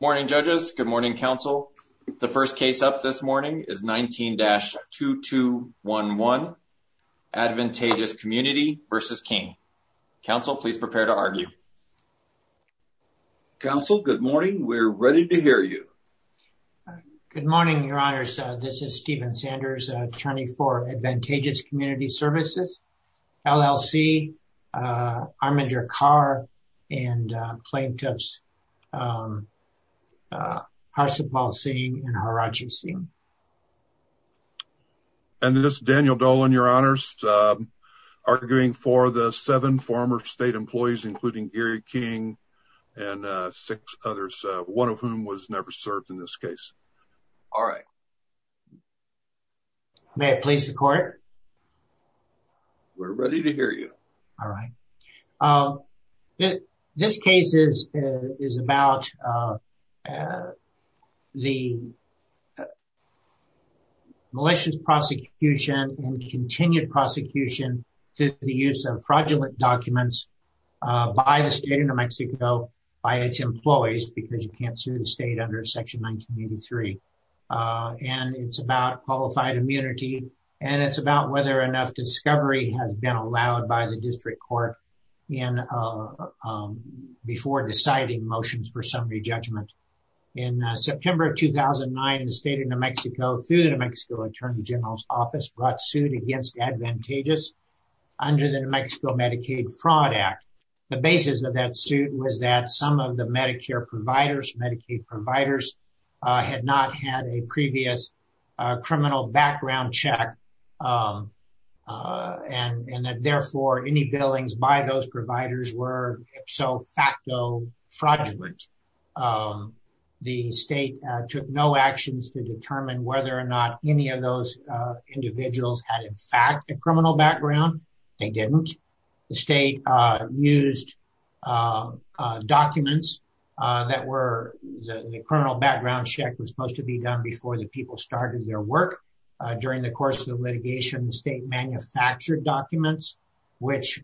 Morning judges. Good morning, counsel. The first case up this morning is 19-2211 Advantageous Community v. King. Counsel, please prepare to argue. Counsel, good morning. We're ready to hear you. Good morning, your honors. This is Stephen Sanders, attorney for Advantageous Community Services, LLC, Armandur Carr, and plaintiffs Harsipal Singh and Harajan Singh. And this is Daniel Dolan, your honors, arguing for the seven former state employees, including Gary King and six others, one of whom was never served in this case. All right. May I please the court? We're ready to hear you. All right. This case is about the malicious prosecution and continued prosecution to the use of fraudulent documents by the state of New Mexico, by its employees, because you can't sue the state under Section 1983. And it's about qualified immunity. And it's about whether enough discovery has been allowed by the district court before deciding motions for summary judgment. In September of 2009, in the state of New Mexico, through the New Mexico Attorney General's Office, brought suit against Advantageous under the New Mexico Medicaid Fraud Act. The basis of that suit was that some of the Medicare providers, Medicaid providers, had not had a previous criminal background check. And therefore, any billings by those providers were so facto fraudulent. The state took no individuals had in fact, a criminal background, they didn't. The state used documents that were the criminal background check was supposed to be done before the people started their work. During the course of litigation, the state manufactured documents, which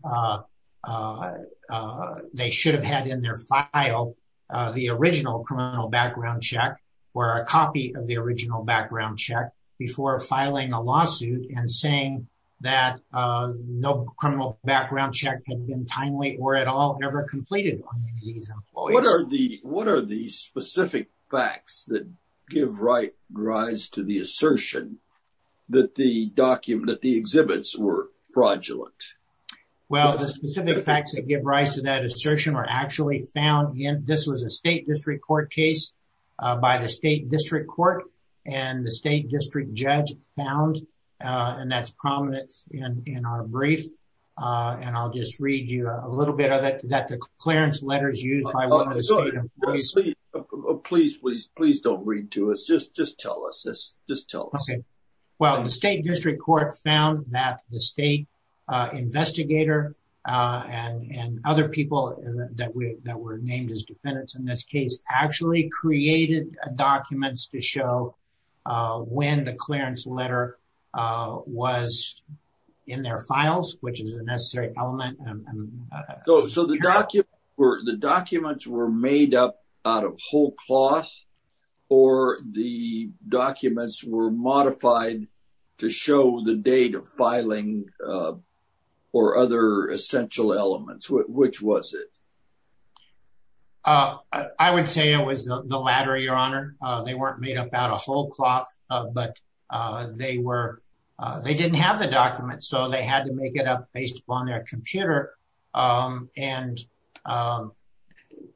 they should have had in their file, the original criminal background check, or a copy of the original background check before filing a lawsuit and saying that no criminal background check had been timely or at all ever completed. What are the specific facts that give rise to the assertion that the document that the exhibits were fraudulent? Well, the specific facts that give rise to that assertion were actually found in a state district court case by the state district court. And the state district judge found, and that's prominent in our brief. And I'll just read you a little bit of it that the clearance letters used. Please, please, please don't read to us. Just just tell us this. Just tell us. Okay. Well, the state district court found that the state investigator and other people that were named as defendants in this case actually created documents to show when the clearance letter was in their files, which is a necessary element. So the documents were made up out of whole cloth, or the documents were modified to show the date filing or other essential elements, which was it? I would say it was the latter, your honor. They weren't made up out of whole cloth. But they were, they didn't have the document. So they had to make it up based upon their computer. And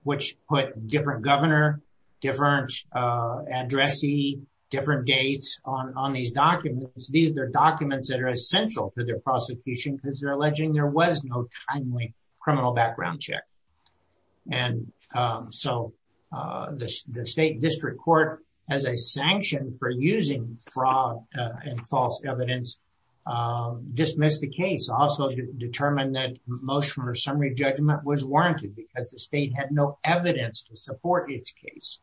which put different governor, different addressee, different dates on these documents, their documents that are essential to their prosecution, because they're alleging there was no timely criminal background check. And so the state district court, as a sanction for using fraud and false evidence, dismissed the case also determined that motion or summary judgment was warranted because the state had no evidence to support its case.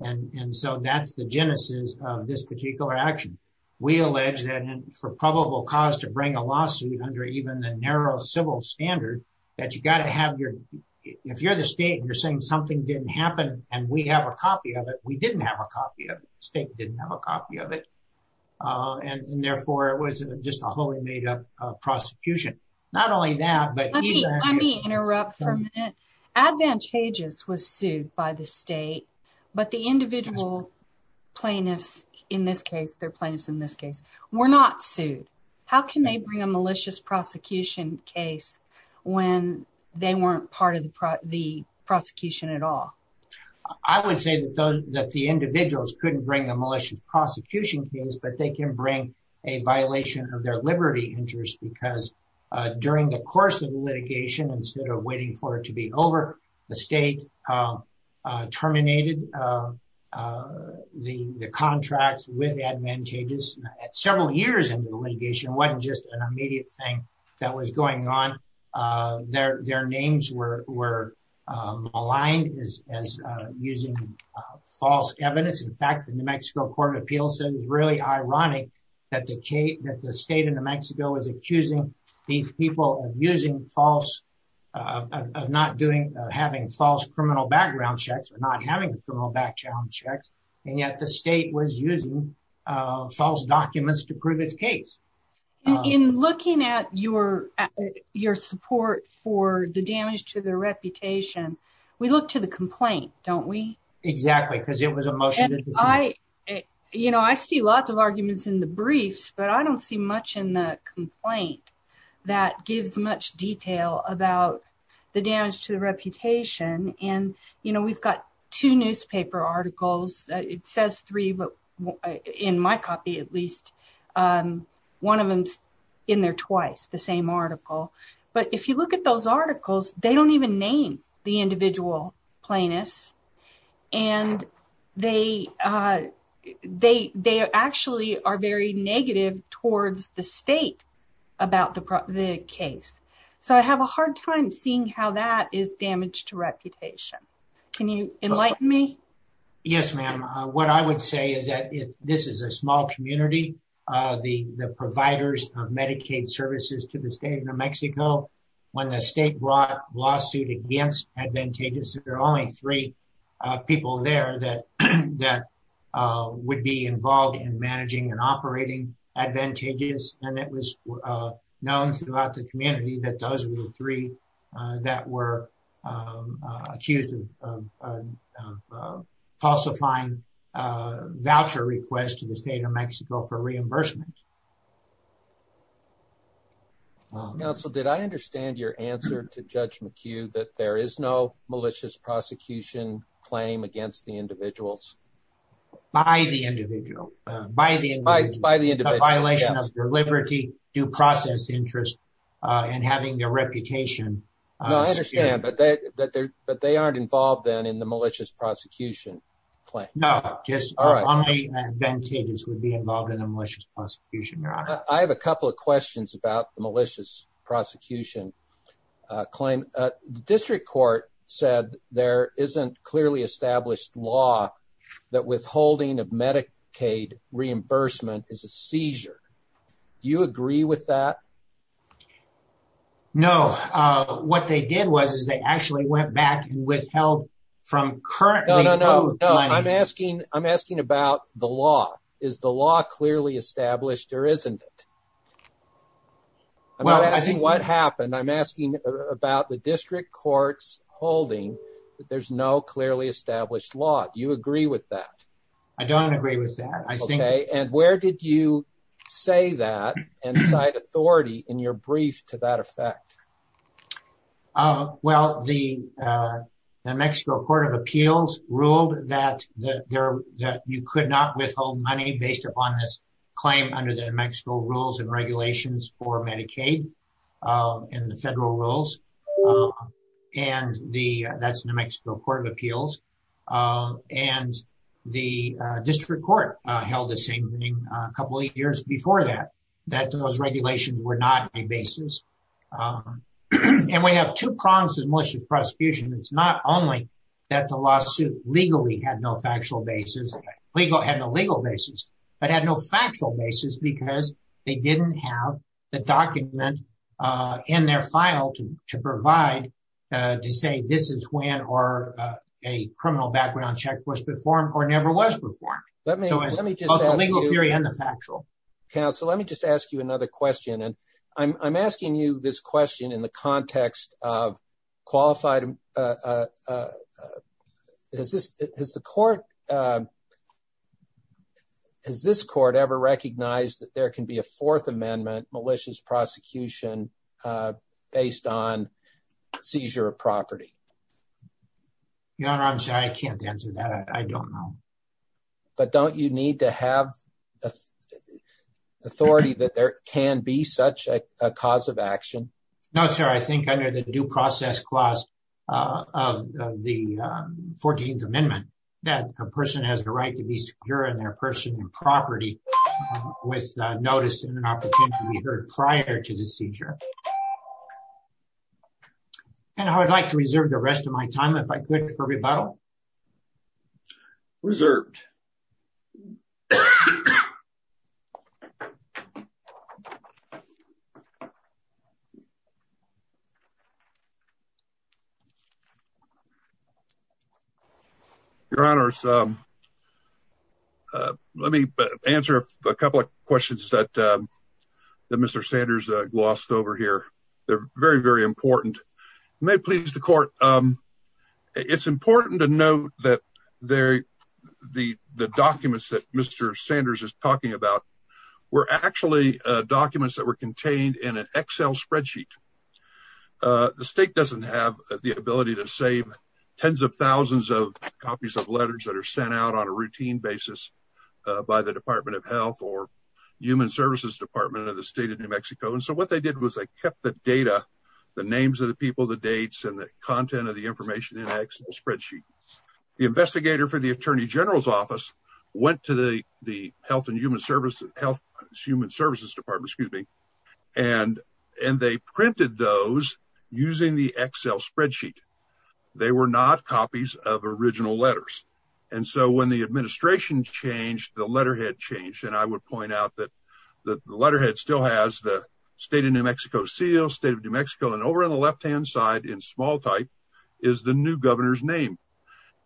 And so that's the genesis of this particular action. We allege that for probable cause to bring a lawsuit under even the narrow civil standard, that you got to have your, if you're the state and you're saying something didn't happen, and we have a copy of it, we didn't have a copy of it, state didn't have a copy of it. And therefore, it was just a wholly made up prosecution. Not only that, but Let me interrupt for a minute. Advantageous was sued by the state, but the individual plaintiffs, in this case, they're plaintiffs in this case, were not sued. How can they bring a malicious prosecution case when they weren't part of the prosecution at all? I would say that the individuals couldn't bring a malicious prosecution case, but they can bring a violation of their liberty interest because during the course of litigation, instead of for it to be over, the state terminated the contracts with advantageous at several years into the litigation, wasn't just an immediate thing that was going on. Their names were maligned as using false evidence. In fact, the New Mexico Court of Appeals said it was really of not doing, having false criminal background checks or not having criminal background checks, and yet the state was using false documents to prove its case. In looking at your support for the damage to their reputation, we look to the complaint, don't we? Exactly, because it was a motion. You know, I see lots of arguments in the briefs, but I don't see much in the complaint that gives much detail about the damage to the reputation. We've got two newspaper articles. It says three, but in my copy at least, one of them's in there twice, the same article. But if you look at those articles, they don't even name the individual plaintiffs, and they actually are very negative towards the state about the case. So I have a hard time seeing how that is damage to reputation. Can you enlighten me? Yes, ma'am. What I would say is that this is a small community. The providers of Medicaid services to the state of New Mexico, when the state brought a lawsuit against advantageous, there are only three people there that would be involved in managing and operating advantageous, and it was known throughout the community that those were the three that were accused of falsifying voucher requests to the state of Mexico for reimbursement. Counsel, did I understand your answer to Judge McHugh that there is no malicious prosecution claim against the individuals? By the individual. By the individual. By the individual, yes. A violation of their liberty, due process interest, and having their reputation. No, I understand, but they aren't involved then in the malicious prosecution claim. No, just only advantageous would be involved in a malicious prosecution. I have a couple of questions about the malicious prosecution claim. The district court said there isn't clearly established law that withholding of Medicaid reimbursement is a seizure. Do you agree with that? No, what they did was they actually went back and withheld from currently owed money. No, no, no, I'm asking about the law. Is the law clearly established or isn't it? I'm asking what happened. I'm asking about the district court's holding that there's no clearly established law. Do you agree with that? I don't agree with that. Okay, and where did you say that and cite authority in your brief to that effect? Well, the New Mexico Court of Appeals ruled that you could not withhold money based upon this claim under the New Mexico rules and regulations for Medicaid and the federal rules. And that's the New Mexico Court of Appeals. And the district court held the same thing a couple of years before that, that those regulations were not a basis. And we have two problems with malicious prosecution. It's not only that the lawsuit legally had no factual basis, legal had no legal basis, but had no factual basis because they didn't have the document in their file to provide to say this is when or a criminal background check was performed or never was performed. Counsel, let me just ask you another question. And I'm asking you this question in the context of qualified... Has this court ever recognized that there can be a fourth amendment malicious prosecution based on seizure of property? Your Honor, I'm sorry, I can't answer that. I don't know. But don't you need to have authority that there can be such a cause of action? No, sir. I think under the due process clause of the 14th amendment, that a person has the right to be secure in their personal property with notice and an opportunity to be heard prior to the seizure. And I would like to reserve the rest of my time if I could for rebuttal. Reserved. Your Honor, let me answer a couple of questions that Mr. Sanders glossed over here. They're very, the documents that Mr. Sanders is talking about were actually documents that were contained in an Excel spreadsheet. The state doesn't have the ability to save tens of thousands of copies of letters that are sent out on a routine basis by the Department of Health or Human Services Department of the State of New Mexico. And so what they did was they kept the data, the names of the people, the dates and the content of the information in an Excel spreadsheet. The investigator for the Attorney General's Office went to the Health and Human Services Department, and they printed those using the Excel spreadsheet. They were not copies of original letters. And so when the administration changed, the letterhead changed. And I would point out that the letterhead still has the State of New Mexico seal, State of New Mexico, and over on the left-hand side in small type is the new governor's name.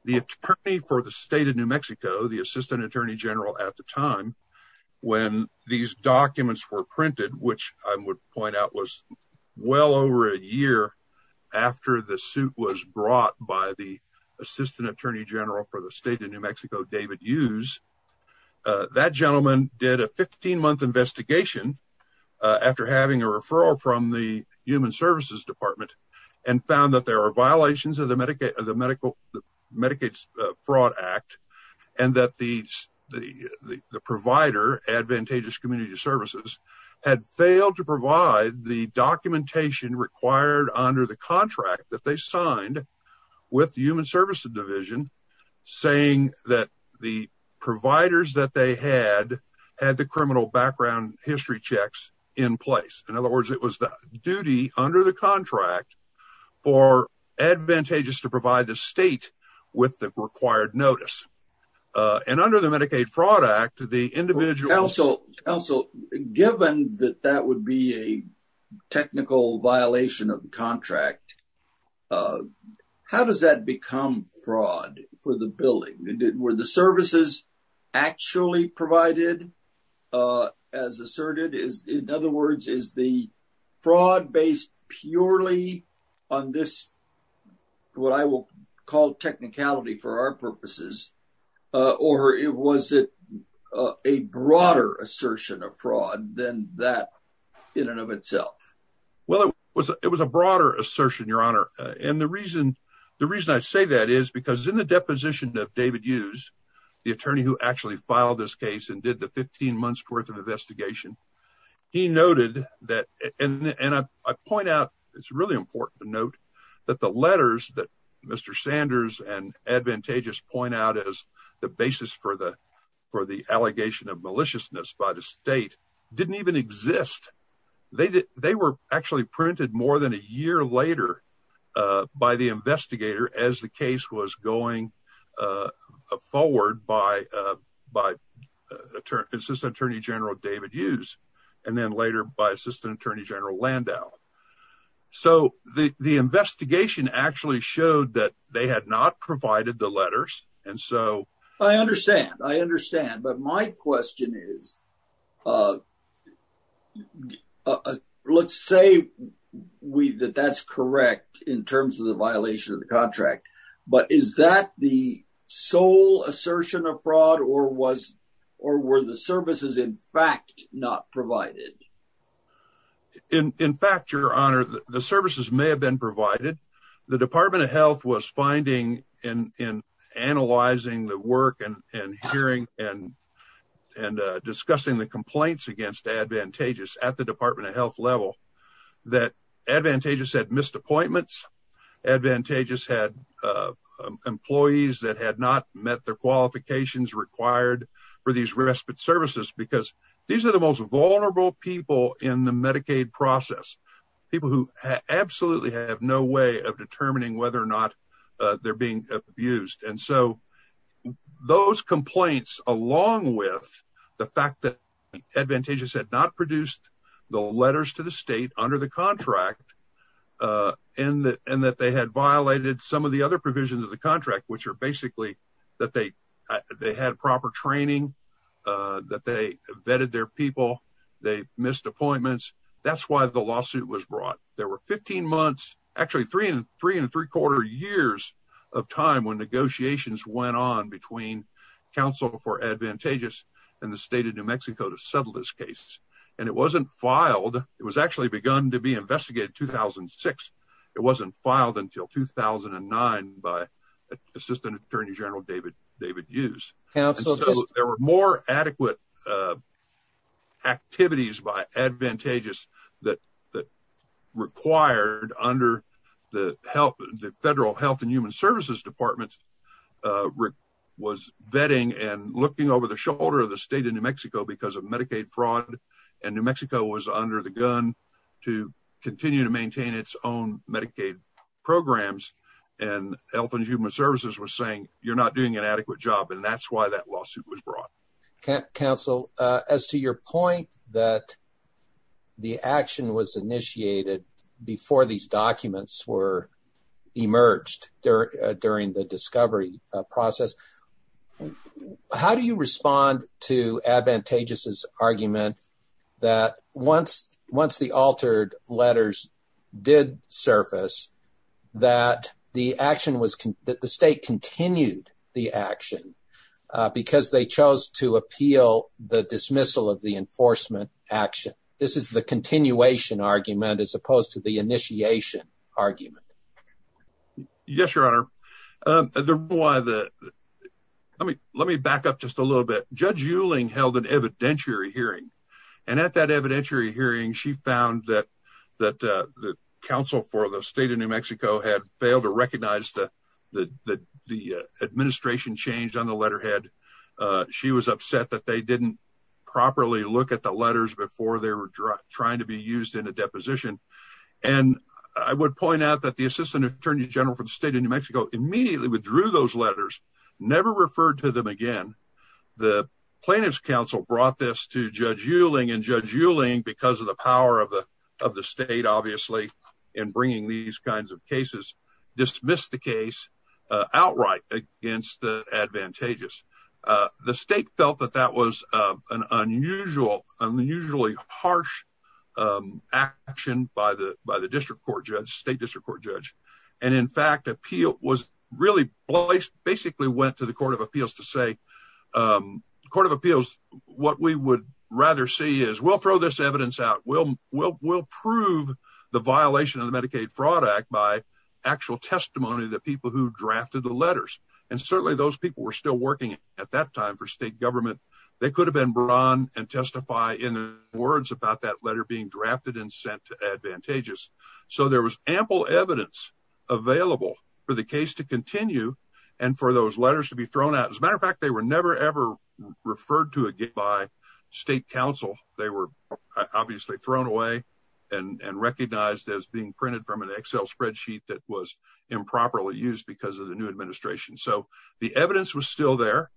The attorney for the State of New Mexico, the Assistant Attorney General at the time, when these documents were printed, which I would point out was well over a year after the suit was brought by the Assistant Attorney General for the State of New Mexico, David Hughes, that gentleman did a 15-month investigation after having a referral from the Human Services Department and found that there are violations of the Medicaid Fraud Act and that the provider, Advantageous Community Services, had failed to provide the documentation required under the contract that they signed with the Human Services Division, saying that the providers that they had had the criminal background history checks in place. In other words, it was the contract for Advantageous to provide the state with the required notice. And under the Medicaid Fraud Act, the individual... Counsel, given that that would be a technical violation of the contract, how does that become fraud for the building? Were the services actually provided as asserted? In other words, is the fraud based purely on this, what I will call technicality for our purposes, or was it a broader assertion of fraud than that in and of itself? Well, it was a broader assertion, Your Honor, and the reason I say that is because in the deposition of David Hughes, the attorney who actually filed this case and did the 15 months worth of investigation, he noted that... And I point out, it's really important to note that the letters that Mr. Sanders and Advantageous point out as the basis for the allegation of maliciousness by the state didn't even exist. They were actually printed more than a year later by the investigator as the case was going forward by Assistant Attorney General David Hughes, and then later by Assistant Attorney General Landau. So, the investigation actually showed that they had not provided the letters, and so... I understand, I understand, but my question is... Let's say that that's correct in terms of the violation of the contract, but is that the sole assertion of fraud, or were the services, in fact, not provided? In fact, Your Honor, the services may have been provided. The Department of Health was finding in analyzing the work and hearing and discussing the complaints against Advantageous at the Department of Health level that Advantageous had missed appointments, Advantageous had employees that had not met their qualifications required for these respite services, because these are the most vulnerable people in the Medicaid process, people who absolutely have no way of determining whether or not they're being abused. And so, those complaints along with the fact that Advantageous had not produced the letters to the state under the contract, and that they had violated some of the other provisions of the contract, which are basically that they had proper training, that they vetted their people, they missed appointments. That's why the lawsuit was brought. There were 15 months, actually, three and three-quarter years of time when negotiations went on between counsel for Advantageous and the state of New Mexico to settle this case, and it wasn't filed. It was actually begun to be investigated in 2006. It wasn't filed until 2009 by Assistant Attorney General David Hughes. There were more adequate activities by Advantageous that required, under the federal Health and Human Services Department, was vetting and looking over the shoulder of the state of New Mexico because of Medicaid fraud, and New Mexico was under the gun to continue to maintain its own Medicaid programs, and Health and Human Services was saying, you're not doing an adequate job, and that's why that lawsuit was brought. Counsel, as to your point that the action was initiated before these documents were emerged during the discovery process, how do you respond to Advantageous's argument that once the altered letters did surface, that the state continued the action because they chose to appeal the dismissal of the enforcement action? This is the continuation argument as opposed to the initiation argument. Yes, Your Honor. Let me back up just a little bit. Judge Euling held an evidentiary hearing, and at that evidentiary hearing, she found that the counsel for the state of New Mexico had failed to recognize that the administration changed on the letterhead. She was upset that they didn't properly look at the letters before they were trying to be used in a deposition, and I would point out that the Assistant Attorney General for the state of New Mexico immediately withdrew those letters, never referred to them again. The Plaintiff's brought this to Judge Euling, and Judge Euling, because of the power of the state, obviously, in bringing these kinds of cases, dismissed the case outright against the Advantageous. The state felt that that was an unusually harsh action by the state district court judge, and in fact, basically went to the Court of Appeals to say, what we would rather see is, we'll throw this evidence out. We'll prove the violation of the Medicaid Fraud Act by actual testimony to people who drafted the letters, and certainly those people were still working at that time for state government. They could have been brought on and testify in words about that letter being drafted and sent to Advantageous, so there was ample evidence available for the case to continue and for those letters to be thrown out. As a matter of fact, they were never ever referred to again by state counsel. They were obviously thrown away and recognized as being printed from an Excel spreadsheet that was improperly used because of the new administration, so the evidence was still there.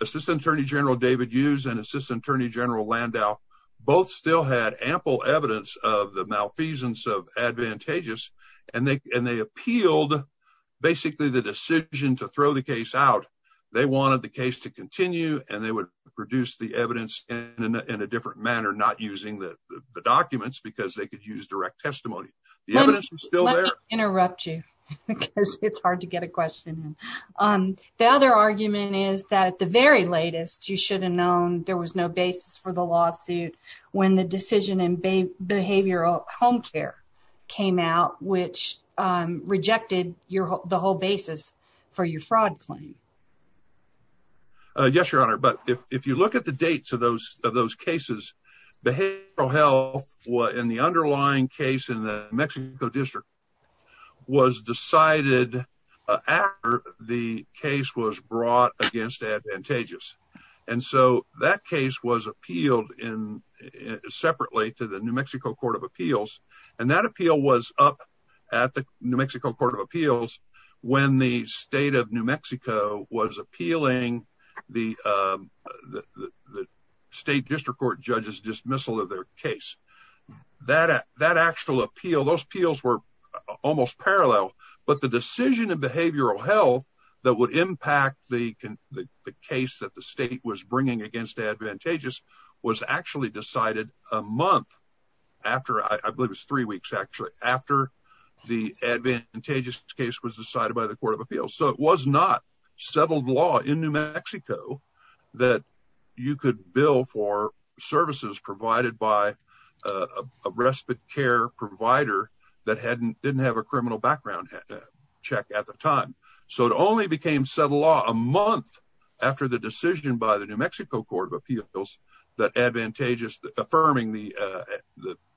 Assistant Attorney General David Hughes and Assistant Attorney General Landau both still had ample evidence of the malfeasance of Advantageous, and they appealed basically the decision to throw the case out. They wanted the case to continue, and they would produce the evidence in a different manner, not using the documents because they could use direct testimony. The evidence was still there. Let me interrupt you because it's hard to get a question in. The other argument is that at the very latest, you should have known there was no basis for the lawsuit when the decision in behavioral home care came out, which rejected the whole basis for your fraud claim. Yes, Your Honor, but if you look at the dates of those cases, behavioral health in the underlying case in the New Mexico District was decided after the case was brought against Advantageous, and so that case was appealed separately to the New Mexico Court of Appeals, and that appeal was up at the New Mexico Court of Appeals when the state of New Mexico was appealing the state district court judge's dismissal of their case. Those appeals were almost parallel, but the decision in behavioral health that would impact the case that the state was bringing against Advantageous was actually decided a month after, I believe it was three weeks actually, after the Advantageous case was decided by the Court of Appeals, so it was not settled law in bill for services provided by a respite care provider that didn't have a criminal background check at the time, so it only became settled law a month after the decision by the New Mexico Court of Appeals that Advantageous, affirming the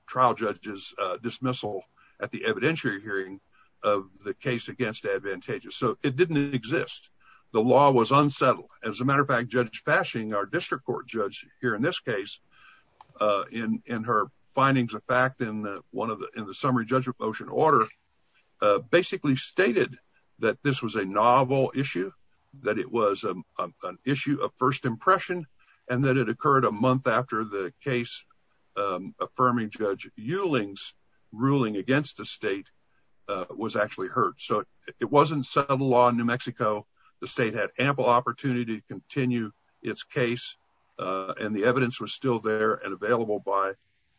trial judge's dismissal at the evidentiary hearing of the case against Advantageous, so it didn't exist. The law was unsettled. As a matter of fact, Judge Fashing, our district court judge here in this case, in her findings of fact in the summary judgment motion order, basically stated that this was a novel issue, that it was an issue of first impression, and that it occurred a month after the case affirming Judge Euling's ruling against the state was actually heard, so it wasn't settled law in New Mexico. The state had ample opportunity to continue its case, and the evidence was still there and available by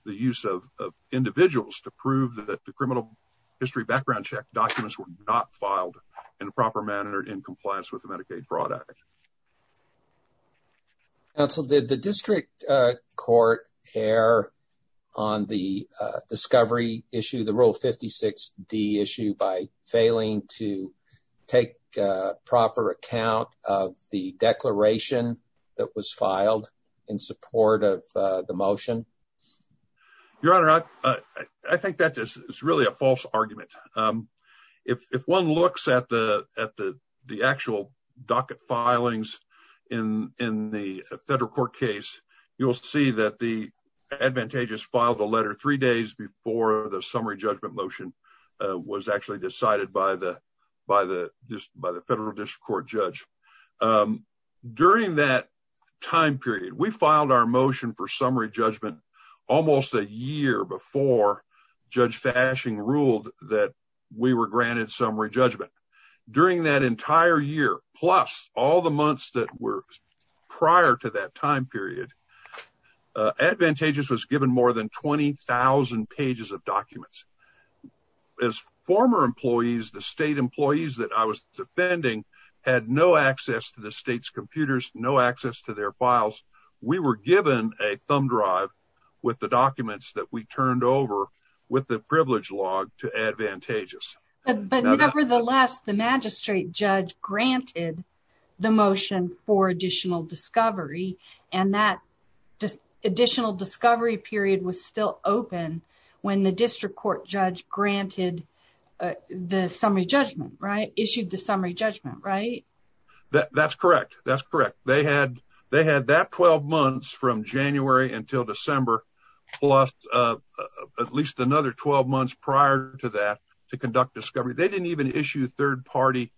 the use of individuals to prove that the criminal history background check documents were not filed in a proper manner in compliance with the Medicaid Fraud Act. Counsel, did the district court err on the discovery issue, the Rule 56D issue, by failing to take proper account of the declaration that was filed in support of the motion? Your Honor, I think that is really a false argument. If one looks at the actual docket filings in the federal court case, you'll see that the Advantageous filed a letter three days before the summary judgment motion was actually decided by the federal district court judge. During that time period, we filed our motion for summary judgment almost a year before Judge Fashing ruled that we were granted summary judgment. During that entire year, plus all the documents, as former employees, the state employees that I was defending had no access to the state's computers, no access to their files. We were given a thumb drive with the documents that we turned over with the privilege log to Advantageous. But nevertheless, the magistrate judge granted the motion for additional discovery, and that additional discovery period was still open when the district court judge granted the summary judgment, right? Issued the summary judgment, right? That's correct. That's correct. They had that 12 months from January until December, plus at least another 12 months prior to that to conduct discovery. They didn't even issue third-party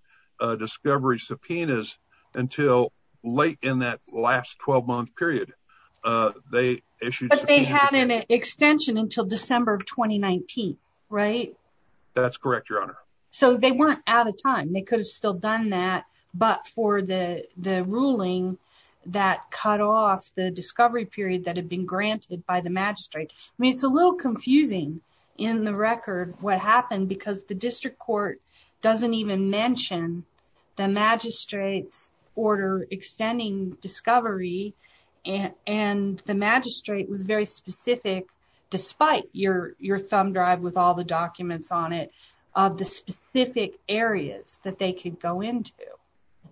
discovery subpoenas until late in that last 12-month period. But they had an extension until December of 2019, right? That's correct, Your Honor. So they weren't out of time. They could have still done that, but for the ruling that cut off the discovery period that had been granted by the magistrate. I mean, it's a little confusing in the record what happened because the district court doesn't even mention the magistrate's extending discovery, and the magistrate was very specific, despite your thumb drive with all the documents on it, of the specific areas that they could go into.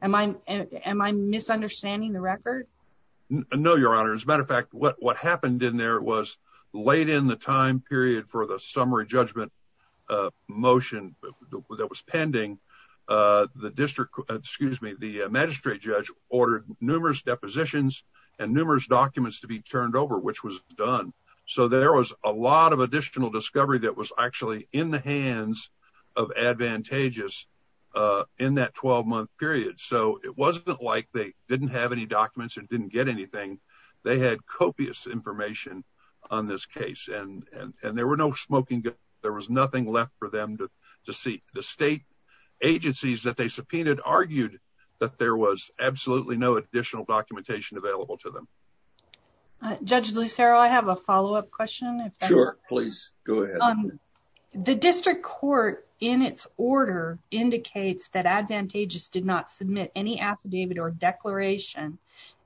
Am I misunderstanding the record? No, Your Honor. As a matter of fact, what happened in there was late in the time period for the summary judgment motion that was pending, the magistrate judge ordered numerous depositions and numerous documents to be turned over, which was done. So there was a lot of additional discovery that was actually in the hands of Advantageous in that 12-month period. So it wasn't like they didn't have any documents and didn't get anything. They had copious information on this case, and there was nothing left for them to see. The state agencies that they subpoenaed argued that there was absolutely no additional documentation available to them. Judge Lucero, I have a follow-up question. Sure, please go ahead. The district court in its order indicates that Advantageous did not submit any affidavit or declaration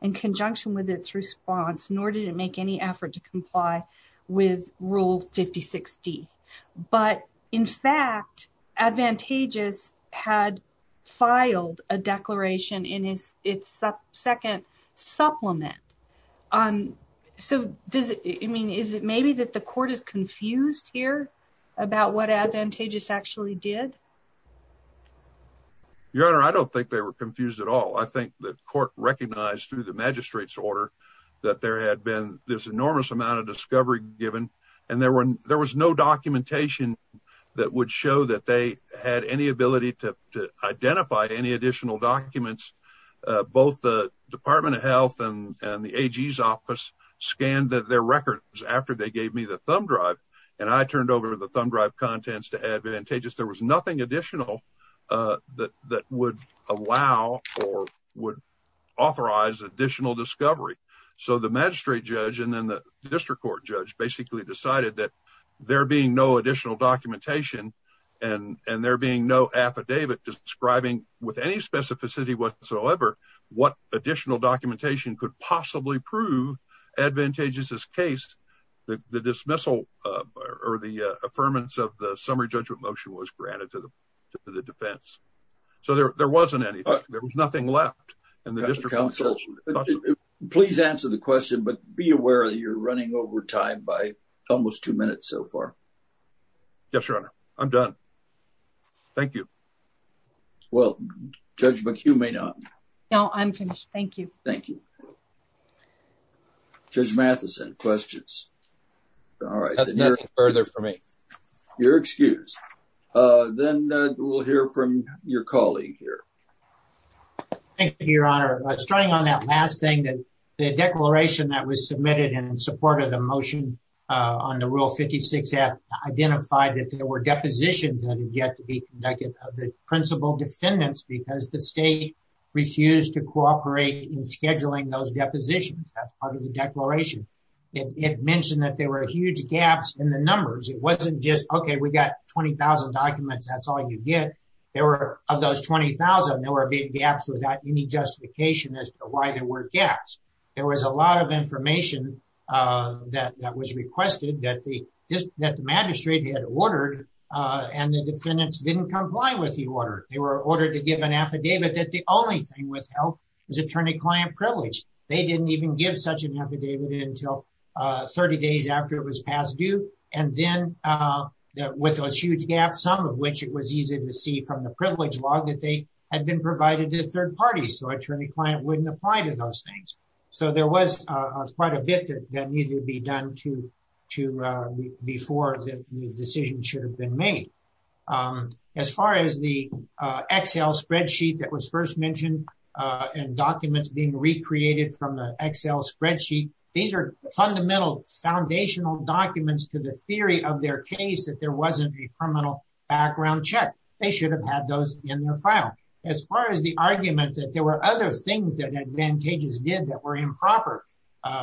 in conjunction with its response, nor did it make any effort to comply with Rule 5060. But in fact, Advantageous had filed a declaration in its second supplement. So is it maybe that the court is confused here about what Advantageous actually did? Your Honor, I don't think they were confused at all. I think the court recognized through the magistrate's order that there had been this enormous amount of discovery given, and there was no documentation that would show that they had any ability to identify any additional documents. Both the Department of Health and the AG's office scanned their records after they gave me the thumb drive, and I turned over the thumb drive contents to Advantageous. There was nothing additional that would allow or would authorize additional discovery. So the magistrate judge and then the district court judge basically decided that there being no additional documentation and there being no affidavit describing with any specificity whatsoever what additional documentation could possibly prove Advantageous' case, the dismissal or the affirmance of the summary judgment motion was granted to the defense. So there wasn't anything. There was nothing left. Please answer the question, but be aware that you're running over time by almost two minutes so far. Yes, Your Honor. I'm done. Thank you. Well, Judge McHugh may not. No, I'm finished. Thank you. Thank you. Judge Matheson, questions? All right. Nothing further for me. You're excused. Then we'll hear from your colleague here. Thank you, Your Honor. Starting on that last thing, the declaration that was submitted in support of the motion on the Rule 56-F identified that there were depositions that had yet to be conducted of the defendants because the state refused to cooperate in scheduling those depositions. That's part of the declaration. It mentioned that there were huge gaps in the numbers. It wasn't just, okay, we got 20,000 documents. That's all you get. There were, of those 20,000, there were big gaps without any justification as to why there were gaps. There was a lot of information that was ordered to give an affidavit that the only thing withheld was attorney-client privilege. They didn't even give such an affidavit until 30 days after it was past due. Then, with those huge gaps, some of which it was easy to see from the privilege log that they had been provided to third parties, so attorney-client wouldn't apply to those things. There was quite a bit that needed to be done before the decision should have been made. As far as the Excel spreadsheet that was first mentioned and documents being recreated from the Excel spreadsheet, these are fundamental foundational documents to the theory of their case that there wasn't a criminal background check. They should have had those in the file. As far as the argument that there were other things that Advantageous did that were improper,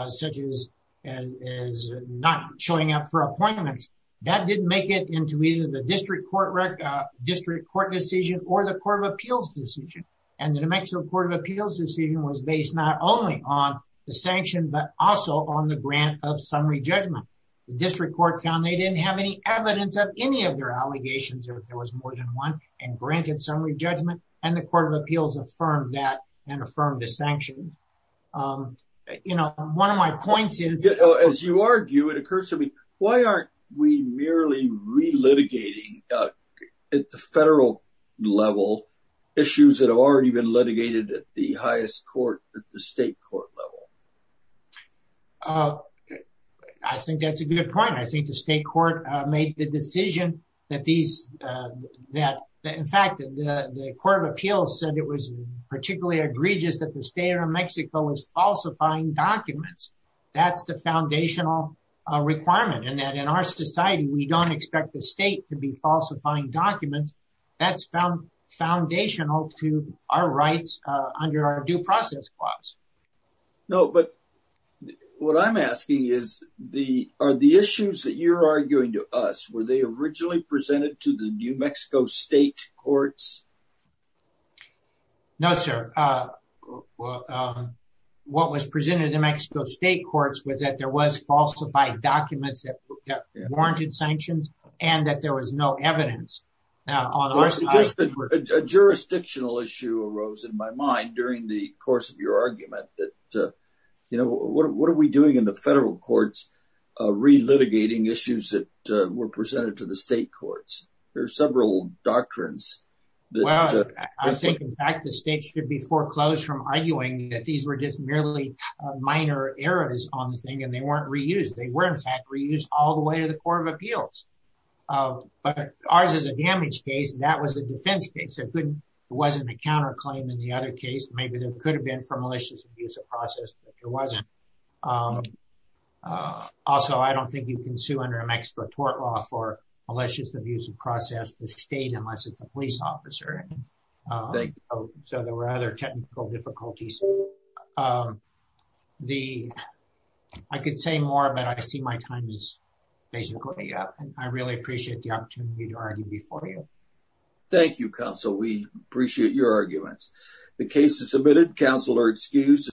such as not showing up for appointments, that didn't make it into either the District Court decision or the Court of Appeals decision. The New Mexico Court of Appeals decision was based not only on the sanction, but also on the grant of summary judgment. The District Court found they didn't have any evidence of any of their allegations, if there was more than one, and granted summary judgment. The Court of Appeals affirmed that and affirmed the sanction. One of my points is... As you argue, it occurs to me, why aren't we merely re-litigating at the federal level issues that have already been litigated at the highest court, at the state court level? I think that's a good point. I think the state court made the decision that these... In fact, the Court of Appeals said it was particularly egregious that the state of that's the foundational requirement and that in our society, we don't expect the state to be falsifying documents. That's found foundational to our rights under our due process clause. No, but what I'm asking is, are the issues that you're arguing to us, were they originally presented to the New Mexico State Courts? No, sir. What was presented to the New Mexico State Courts was that there was falsified documents that warranted sanctions and that there was no evidence. A jurisdictional issue arose in my mind during the course of your argument that, what are we doing in the federal courts re-litigating issues that were presented to the state courts? There are several doctrines. Well, I think in fact, the state should be foreclosed from arguing that these were just merely minor errors on the thing and they weren't reused. They were in fact reused all the way to the Court of Appeals. But ours is a damage case. That was a defense case. It wasn't a counterclaim in the other case. Maybe there could have been for malicious abuse of process, but there wasn't. Also, I don't think you can tort law for malicious abuse of process in the state unless it's a police officer. So there were other technical difficulties. I could say more, but I see my time is basically up. I really appreciate the opportunity to argue before you. Thank you, Counsel. We appreciate your arguments. The case is submitted. Counsel are excused.